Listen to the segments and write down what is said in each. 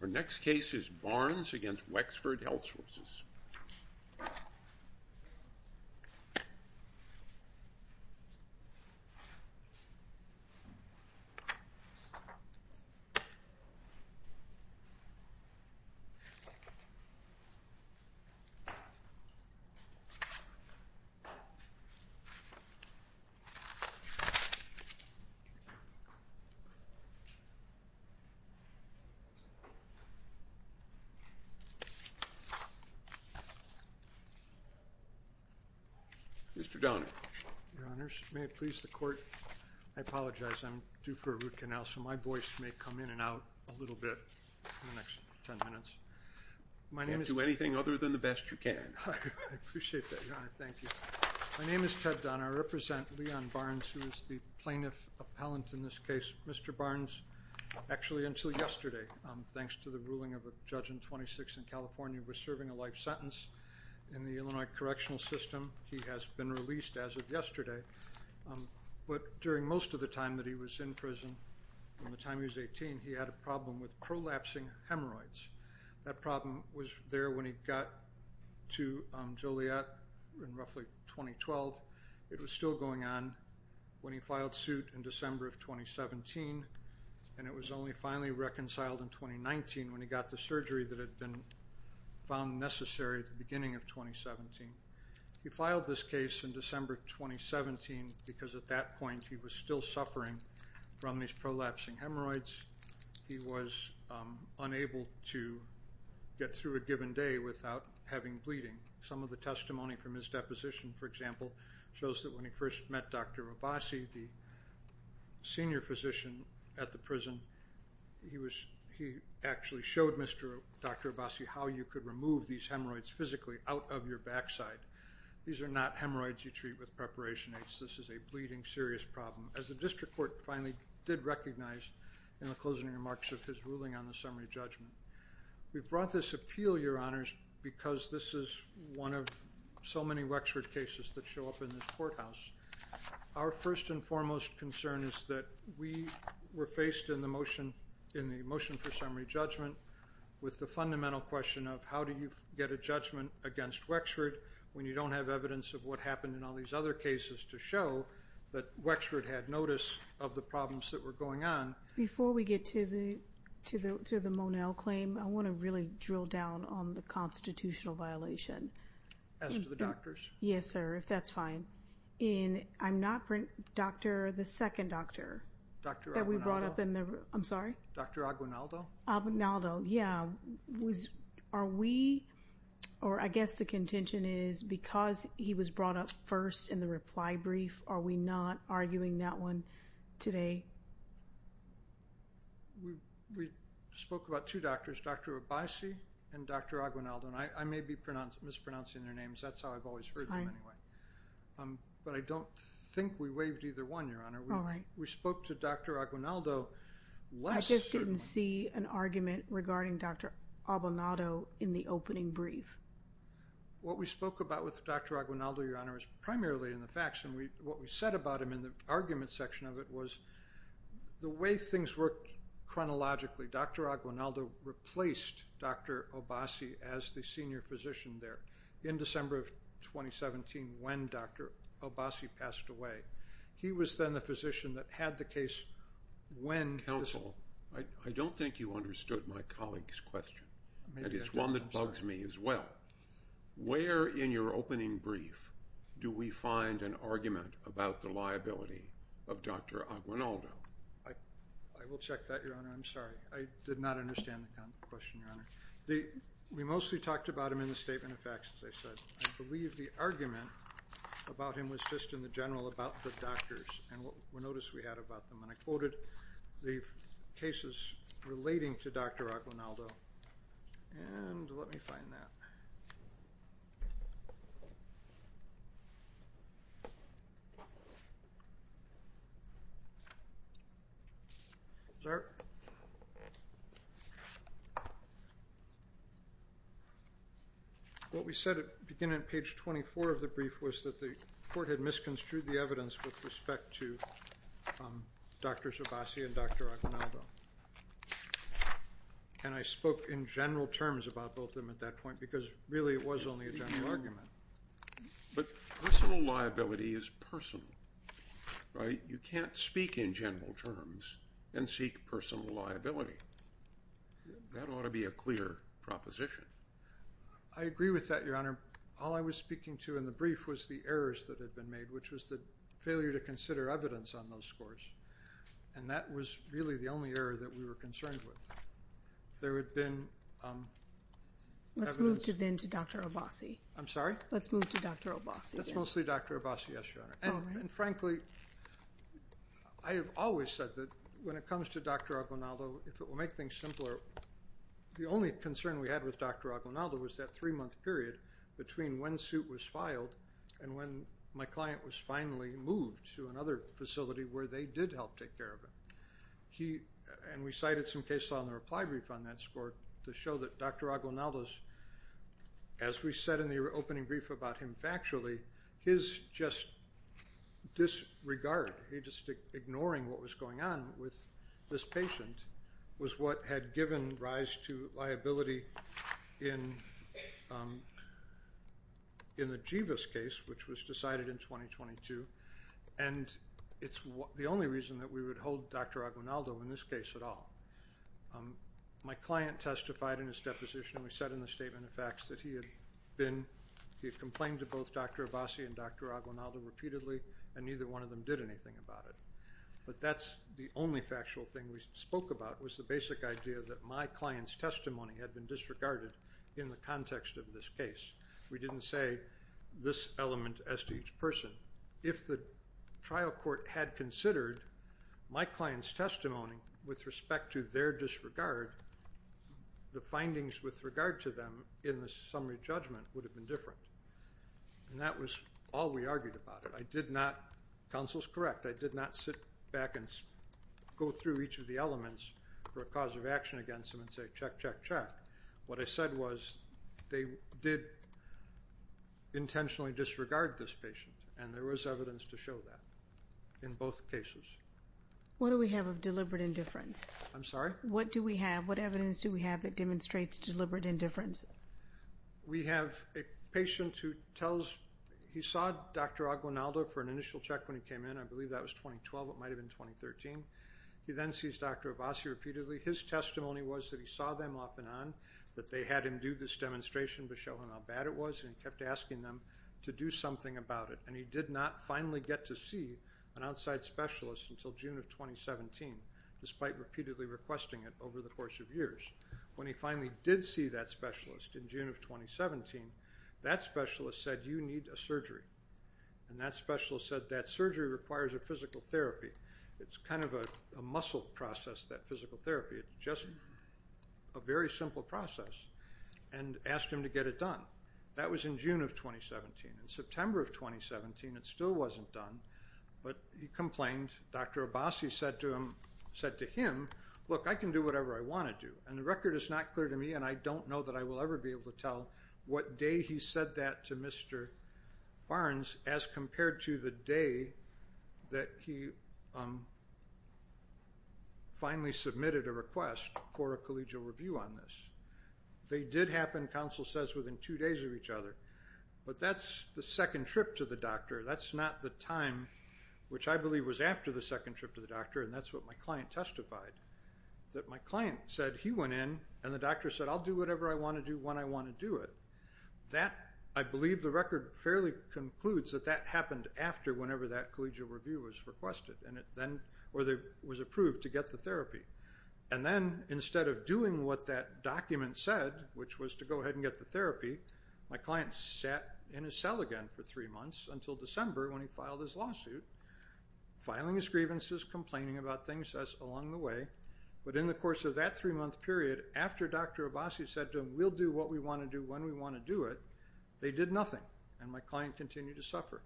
Our next case is Barnes v. Wexford Health Sources. Mr. Donner. Your Honors, may it please the Court, I apologize, I'm due for a root canal, so my voice may come in and out a little bit in the next ten minutes. Don't do anything other than the best you can. I appreciate that, Your Honor. Thank you. My name is Ted Donner. I represent Leon Barnes, who is the plaintiff appellant in this case. Mr. Barnes, actually until yesterday, thanks to the ruling of a judge in 26th and California, was serving a life sentence in the Illinois Correctional System. He has been released as of yesterday. But during most of the time that he was in prison, from the time he was 18, he had a problem with prolapsing hemorrhoids. That problem was there when he got to Joliet in roughly 2012. It was still going on when he filed suit in December of 2017. And it was only finally reconciled in 2019 when he got the surgery that had been found necessary at the beginning of 2017. He filed this case in December of 2017 because at that point he was still suffering from these prolapsing hemorrhoids. He was unable to get through a given day without having bleeding. Some of the testimony from his deposition, for example, shows that when he first met Dr. Abbasi, the senior physician at the prison, he actually showed Dr. Abbasi how you could remove these hemorrhoids physically out of your backside. These are not hemorrhoids you treat with preparation aids. This is a bleeding serious problem. As the district court finally did recognize in the closing remarks of his ruling on the summary judgment. We brought this appeal, Your Honors, because this is one of so many Wexford cases that show up in this courthouse. Our first and foremost concern is that we were faced in the motion for summary judgment with the fundamental question of how do you get a judgment against Wexford when you don't have evidence of what happened in all these other cases to show that Wexford had notice of the problems that were going on. Before we get to the Monell claim, I want to really drill down on the constitutional violation. As to the doctors? Yes, sir, if that's fine. I'm not bringing up the second doctor that we brought up. I'm sorry? Dr. Aguinaldo? Aguinaldo. Yeah. Are we or I guess the contention is because he was brought up first in the reply brief. Are we not arguing that one today? We spoke about two doctors, Dr. Abbasi and Dr. Aguinaldo. And I may be mispronouncing their names. That's how I've always heard them anyway. But I don't think we waived either one, Your Honor. We spoke to Dr. Aguinaldo. I just didn't see an argument regarding Dr. Aguinaldo in the opening brief. What we spoke about with Dr. Aguinaldo, Your Honor, is primarily in the facts. And what we said about him in the argument section of it was the way things work chronologically. Dr. Aguinaldo replaced Dr. Abbasi as the senior physician there in December of 2017 when Dr. Abbasi passed away. He was then the physician that had the case when… Counsel, I don't think you understood my colleague's question. And it's one that bugs me as well. Where in your opening brief do we find an argument about the liability of Dr. Aguinaldo? I will check that, Your Honor. I'm sorry. I did not understand the question, Your Honor. We mostly talked about him in the statement of facts, as I said. I believe the argument about him was just in the general about the doctors and what we noticed we had about them. And I quoted the cases relating to Dr. Aguinaldo. And let me find that. Sir? What we said beginning at page 24 of the brief was that the court had misconstrued the evidence with respect to Dr. Abbasi and Dr. Aguinaldo. And I spoke in general terms about both of them at that point because really it was only a general argument. But personal liability is personal, right? You can't speak in general terms and seek personal liability. That ought to be a clear proposition. I agree with that, Your Honor. All I was speaking to in the brief was the errors that had been made, which was the failure to consider evidence on those scores. And that was really the only error that we were concerned with. There had been evidence… Let's move to Dr. Abbasi. I'm sorry? Let's move to Dr. Abbasi. That's mostly Dr. Abbasi, yes, Your Honor. And frankly, I have always said that when it comes to Dr. Aguinaldo, if it will make things simpler, the only concern we had with Dr. Aguinaldo was that three-month period between when suit was filed and when my client was finally moved to another facility where they did help take care of him. And we cited some cases on the reply brief on that score to show that Dr. Aguinaldo's… As we said in the opening brief about him factually, his just disregard, he just ignoring what was going on with this patient, was what had given rise to liability in the Jivas case, which was decided in 2022. And it's the only reason that we would hold Dr. Aguinaldo in this case at all. My client testified in his deposition. We said in the statement of facts that he had been… He had complained to both Dr. Abbasi and Dr. Aguinaldo repeatedly, and neither one of them did anything about it. But that's the only factual thing we spoke about was the basic idea that my client's testimony had been disregarded in the context of this case. We didn't say this element as to each person. If the trial court had considered my client's testimony with respect to their disregard, the findings with regard to them in the summary judgment would have been different. And that was all we argued about it. I did not—Counsel's correct. I did not sit back and go through each of the elements for a cause of action against them and say, check, check, check. What I said was they did intentionally disregard this patient, and there was evidence to show that in both cases. What do we have of deliberate indifference? I'm sorry? What do we have? What evidence do we have that demonstrates deliberate indifference? We have a patient who tells—he saw Dr. Aguinaldo for an initial check when he came in. I believe that was 2012. It might have been 2013. He then sees Dr. Abbasi repeatedly. His testimony was that he saw them off and on, that they had him do this demonstration to show him how bad it was, and he kept asking them to do something about it. And he did not finally get to see an outside specialist until June of 2017, despite repeatedly requesting it over the course of years. When he finally did see that specialist in June of 2017, that specialist said, you need a surgery. And that specialist said that surgery requires a physical therapy. It's kind of a muscle process, that physical therapy. It's just a very simple process, and asked him to get it done. That was in June of 2017. In September of 2017, it still wasn't done, but he complained. Dr. Abbasi said to him, look, I can do whatever I want to do. And the record is not clear to me, and I don't know that I will ever be able to tell what day he said that to Mr. Barnes as compared to the day that he finally submitted a request for a collegial review on this. They did happen, counsel says, within two days of each other. But that's the second trip to the doctor. That's not the time, which I believe was after the second trip to the doctor, and that's what my client testified, that my client said he went in, and the doctor said, I'll do whatever I want to do when I want to do it. I believe the record fairly concludes that that happened after whenever that collegial review was requested, or was approved to get the therapy. And then instead of doing what that document said, which was to go ahead and get the therapy, my client sat in his cell again for three months until December when he filed his lawsuit, filing his grievances, complaining about things along the way. But in the course of that three-month period, after Dr. Abbasi said to him, we'll do what we want to do when we want to do it, they did nothing, and my client continued to suffer.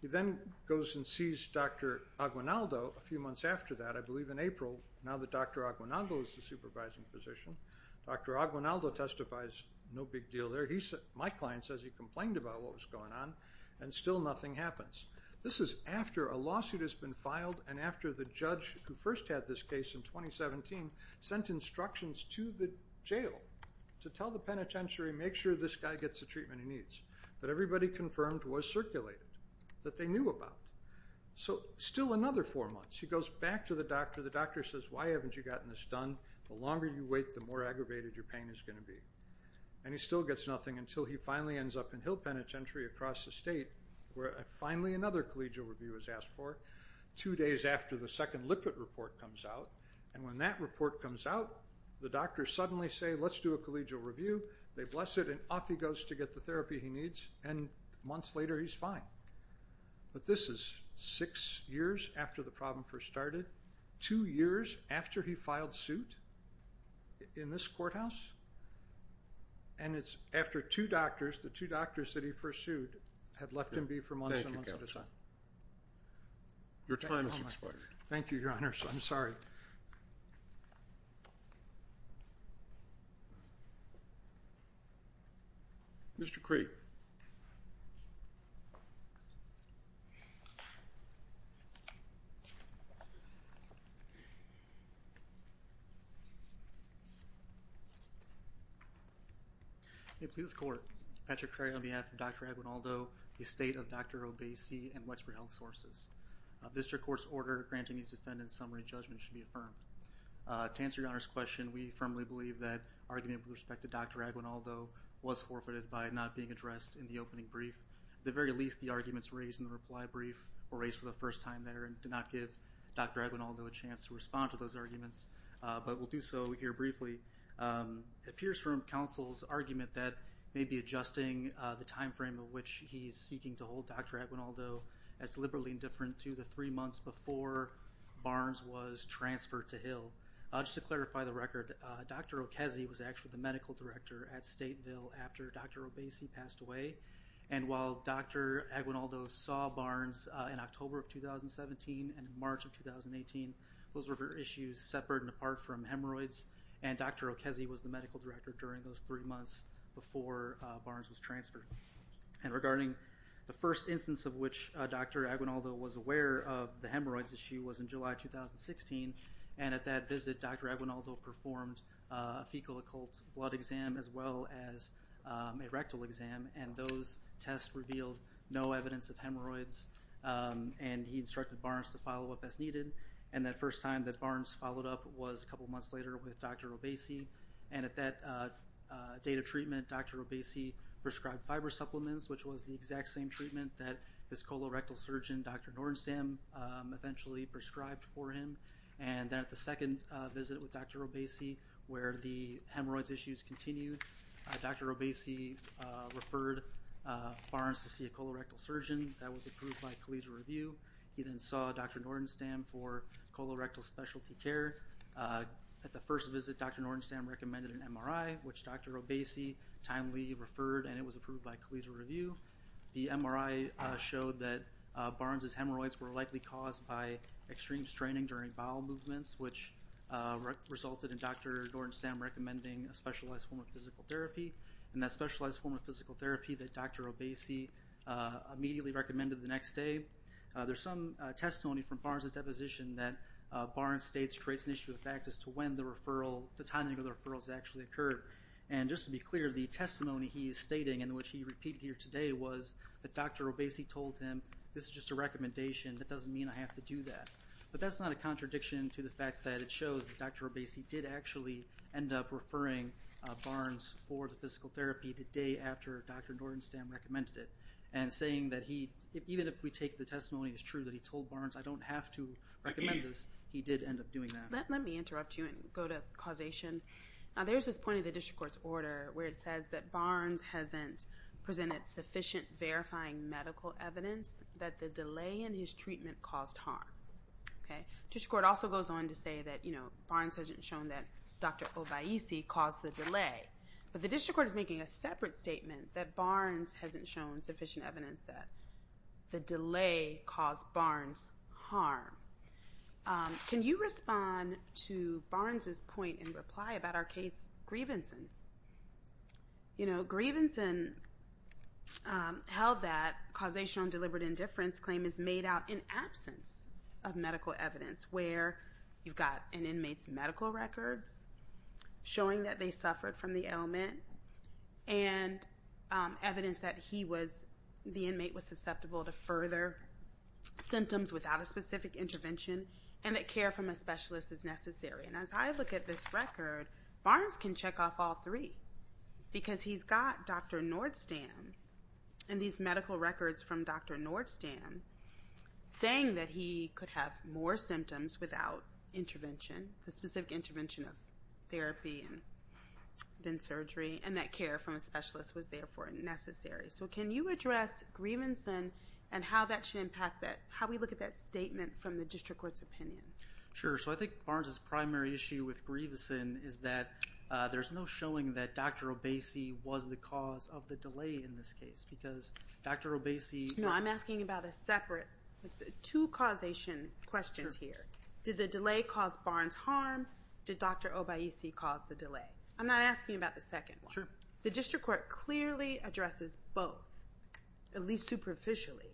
He then goes and sees Dr. Aguinaldo a few months after that, I believe in April, now that Dr. Aguinaldo is the supervising physician. Dr. Aguinaldo testifies, no big deal there. My client says he complained about what was going on, and still nothing happens. This is after a lawsuit has been filed and after the judge who first had this case in 2017 sent instructions to the jail to tell the penitentiary, make sure this guy gets the treatment he needs, that everybody confirmed was circulated, that they knew about. So still another four months. He goes back to the doctor. The doctor says, why haven't you gotten this done? The longer you wait, the more aggravated your pain is going to be. And he still gets nothing until he finally ends up in Hill Penitentiary across the state where finally another collegial review is asked for, two days after the second lipid report comes out. And when that report comes out, the doctors suddenly say, let's do a collegial review. They bless it, and off he goes to get the therapy he needs, and months later he's fine. But this is six years after the problem first started, two years after he filed suit in this courthouse, and it's after two doctors, the two doctors that he first sued, had left him be for months and months. Your time has expired. Thank you, Your Honor. I'm sorry. Thank you, Your Honor. Mr. Craig. May it please the Court, Patrick Craig on behalf of Dr. Aguinaldo, the estate of Dr. Obeisi, and Wexford Health Sources. This court's order granting these defendants summary judgment should be affirmed. To answer Your Honor's question, we firmly believe that argument with respect to Dr. Aguinaldo was forfeited by not being addressed in the opening brief. At the very least, the arguments raised in the reply brief were raised for the first time there and did not give Dr. Aguinaldo a chance to respond to those arguments, but we'll do so here briefly. It appears from counsel's argument that maybe adjusting the time frame of which he's seeking to hold Dr. Aguinaldo as deliberately indifferent to the three months before Barnes was transferred to Hill. Just to clarify the record, Dr. Okezi was actually the medical director at Stateville after Dr. Obeisi passed away, and while Dr. Aguinaldo saw Barnes in October of 2017 and March of 2018, those were for issues separate and apart from hemorrhoids, and Dr. Okezi was the medical director during those three months before Barnes was transferred. And regarding the first instance of which Dr. Aguinaldo was aware of the hemorrhoids issue was in July 2016, and at that visit Dr. Aguinaldo performed a fecal occult blood exam as well as a rectal exam, and those tests revealed no evidence of hemorrhoids, and he instructed Barnes to follow up as needed, and that first time that Barnes followed up was a couple months later with Dr. Obeisi, and at that date of treatment Dr. Obeisi prescribed fiber supplements, which was the exact same treatment that his colorectal surgeon, Dr. Nordenstam, eventually prescribed for him. And then at the second visit with Dr. Obeisi where the hemorrhoids issues continued, Dr. Obeisi referred Barnes to see a colorectal surgeon that was approved by a collegial review. He then saw Dr. Nordenstam for colorectal specialty care. At the first visit Dr. Nordenstam recommended an MRI, which Dr. Obeisi timely referred, and it was approved by collegial review. The MRI showed that Barnes' hemorrhoids were likely caused by extreme straining during bowel movements, which resulted in Dr. Nordenstam recommending a specialized form of physical therapy, and that specialized form of physical therapy that Dr. Obeisi immediately recommended the next day. There's some testimony from Barnes' deposition that Barnes states creates an issue of fact as to when the timing of the referral has actually occurred. And just to be clear, the testimony he is stating and which he repeated here today was that Dr. Obeisi told him, this is just a recommendation, that doesn't mean I have to do that. But that's not a contradiction to the fact that it shows that Dr. Obeisi did actually end up referring Barnes for the physical therapy the day after Dr. Nordenstam recommended it, and saying that even if we take the testimony as true that he told Barnes I don't have to recommend this, he did end up doing that. Let me interrupt you and go to causation. Now there's this point in the district court's order where it says that Barnes hasn't presented sufficient verifying medical evidence that the delay in his treatment caused harm. The district court also goes on to say that Barnes hasn't shown that Dr. Obeisi caused the delay. But the district court is making a separate statement that Barnes hasn't shown sufficient evidence that the delay caused Barnes harm. Can you respond to Barnes's point in reply about our case, Grievanson? You know, Grievanson held that causation on deliberate indifference claim is made out in absence of medical evidence, where you've got an inmate's medical records showing that they suffered from the ailment, and evidence that the inmate was susceptible to further symptoms without a specific intervention, and that care from a specialist is necessary. And as I look at this record, Barnes can check off all three, because he's got Dr. Nordenstam and these medical records from Dr. Nordenstam saying that he could have more symptoms without intervention, the specific intervention of therapy and then surgery, and that care from a specialist was therefore necessary. So can you address Grievanson and how that should impact that, how we look at that statement from the district court's opinion? Sure. So I think Barnes's primary issue with Grievanson is that there's no showing that Dr. Obeisi was the cause of the delay in this case, because Dr. Obeisi- No, I'm asking about a separate two causation questions here. Did the delay cause Barnes harm? Did Dr. Obeisi cause the delay? I'm not asking about the second one. The district court clearly addresses both, at least superficially.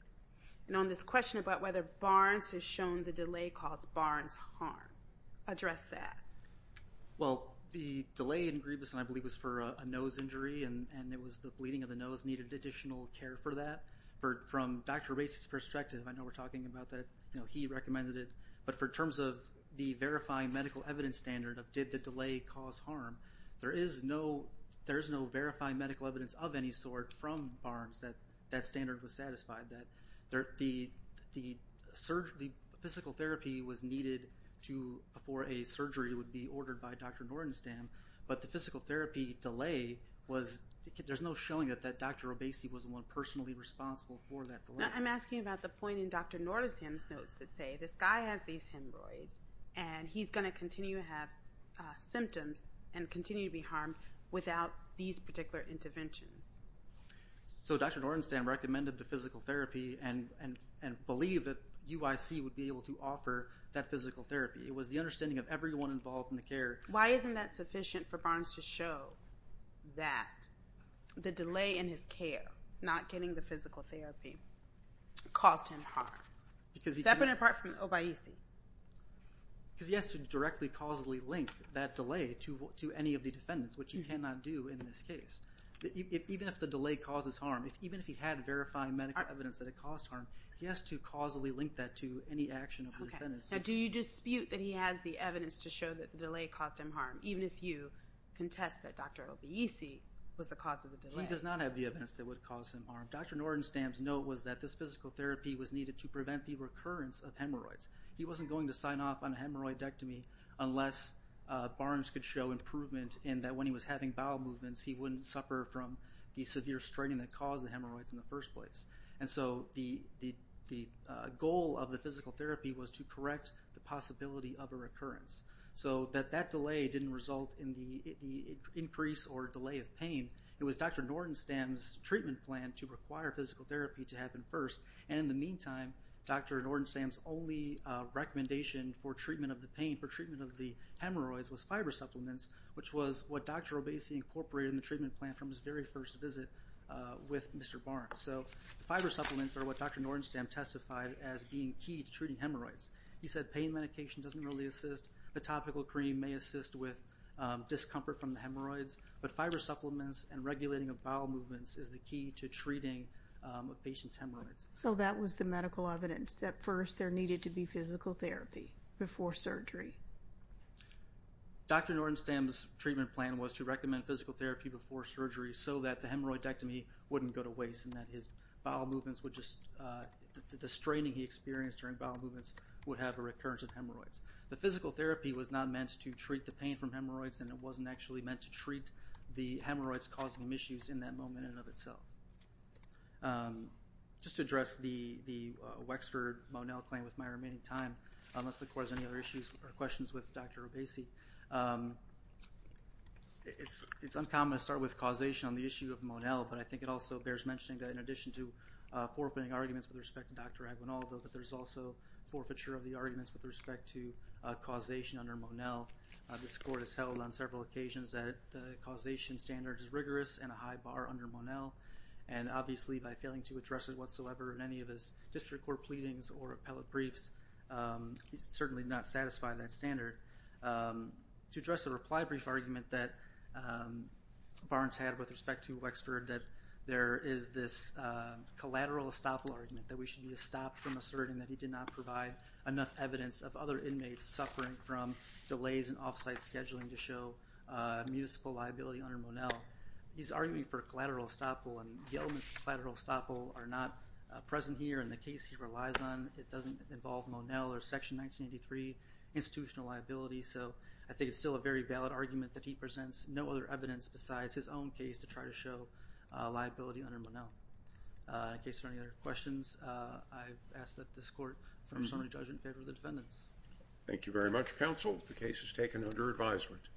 And on this question about whether Barnes has shown the delay caused Barnes harm, address that. Well, the delay in Grievanson, I believe, was for a nose injury, and it was the bleeding of the nose needed additional care for that. From Dr. Obeisi's perspective, I know we're talking about that, he recommended it, but for terms of the verifying medical evidence standard of did the delay cause harm, there is no verifying medical evidence of any sort from Barnes that that standard was satisfied. The physical therapy was needed for a surgery that would be ordered by Dr. Nordenstam, but the physical therapy delay, there's no showing that Dr. Obeisi was the one personally responsible for that delay. I'm asking about the point in Dr. Nordenstam's notes that say this guy has these hemorrhoids, and he's going to continue to have symptoms and continue to be harmed without these particular interventions. So Dr. Nordenstam recommended the physical therapy and believed that UIC would be able to offer that physical therapy. It was the understanding of everyone involved in the care. Why isn't that sufficient for Barnes to show that the delay in his care, not getting the physical therapy, caused him harm, separate and apart from Obeisi? Because he has to directly causally link that delay to any of the defendants, which he cannot do in this case. Even if the delay causes harm, even if he had verifying medical evidence that it caused harm, he has to causally link that to any action of the defendants. Okay. Now, do you dispute that he has the evidence to show that the delay caused him harm, even if you contest that Dr. Obeisi was the cause of the delay? He does not have the evidence that would cause him harm. Dr. Nordenstam's note was that this physical therapy was needed to prevent the recurrence of hemorrhoids. He wasn't going to sign off on a hemorrhoidectomy unless Barnes could show improvement in that when he was having bowel movements, he wouldn't suffer from the severe straining that caused the hemorrhoids in the first place. And so the goal of the physical therapy was to correct the possibility of a recurrence, so that that delay didn't result in the increase or delay of pain. It was Dr. Nordenstam's treatment plan to require physical therapy to happen first, and in the meantime, Dr. Nordenstam's only recommendation for treatment of the pain, for treatment of the hemorrhoids, was fiber supplements, which was what Dr. Obeisi incorporated in the treatment plan from his very first visit with Mr. Barnes. So fiber supplements are what Dr. Nordenstam testified as being key to treating hemorrhoids. He said pain medication doesn't really assist. A topical cream may assist with discomfort from the hemorrhoids, but fiber supplements and regulating of bowel movements is the key to treating a patient's hemorrhoids. So that was the medical evidence that first there needed to be physical therapy before surgery. Dr. Nordenstam's treatment plan was to recommend physical therapy before surgery so that the hemorrhoidectomy wouldn't go to waste and that his bowel movements would just, the straining he experienced during bowel movements would have a recurrence of hemorrhoids. The physical therapy was not meant to treat the pain from hemorrhoids, and it wasn't actually meant to treat the hemorrhoids causing him issues in that moment in and of itself. Just to address the Wexford-Monell claim with my remaining time, unless the Court has any other issues or questions with Dr. Obeisi, it's uncommon to start with causation on the issue of Monell, but I think it also bears mentioning that in addition to forfeiting arguments with respect to Dr. Aguinaldo, that there's also forfeiture of the arguments with respect to causation under Monell. This Court has held on several occasions that the causation standard is rigorous and a high bar under Monell, and obviously by failing to address it whatsoever in any of his district court pleadings or appellate briefs, he's certainly not satisfied with that standard. To address the reply brief argument that Barnes had with respect to Wexford, that there is this collateral estoppel argument that we should stop from asserting that he did not provide enough evidence of other inmates suffering from delays in off-site scheduling to show municipal liability under Monell. He's arguing for collateral estoppel, and the elements of collateral estoppel are not present here in the case he relies on. It doesn't involve Monell or Section 1983 institutional liability, so I think it's still a very valid argument that he presents no other evidence besides his own case to try to show liability under Monell. In case there are any other questions, I ask that this Court confirm the judgment in favor of the defendants. Thank you very much, Counsel. The case is taken under advisement.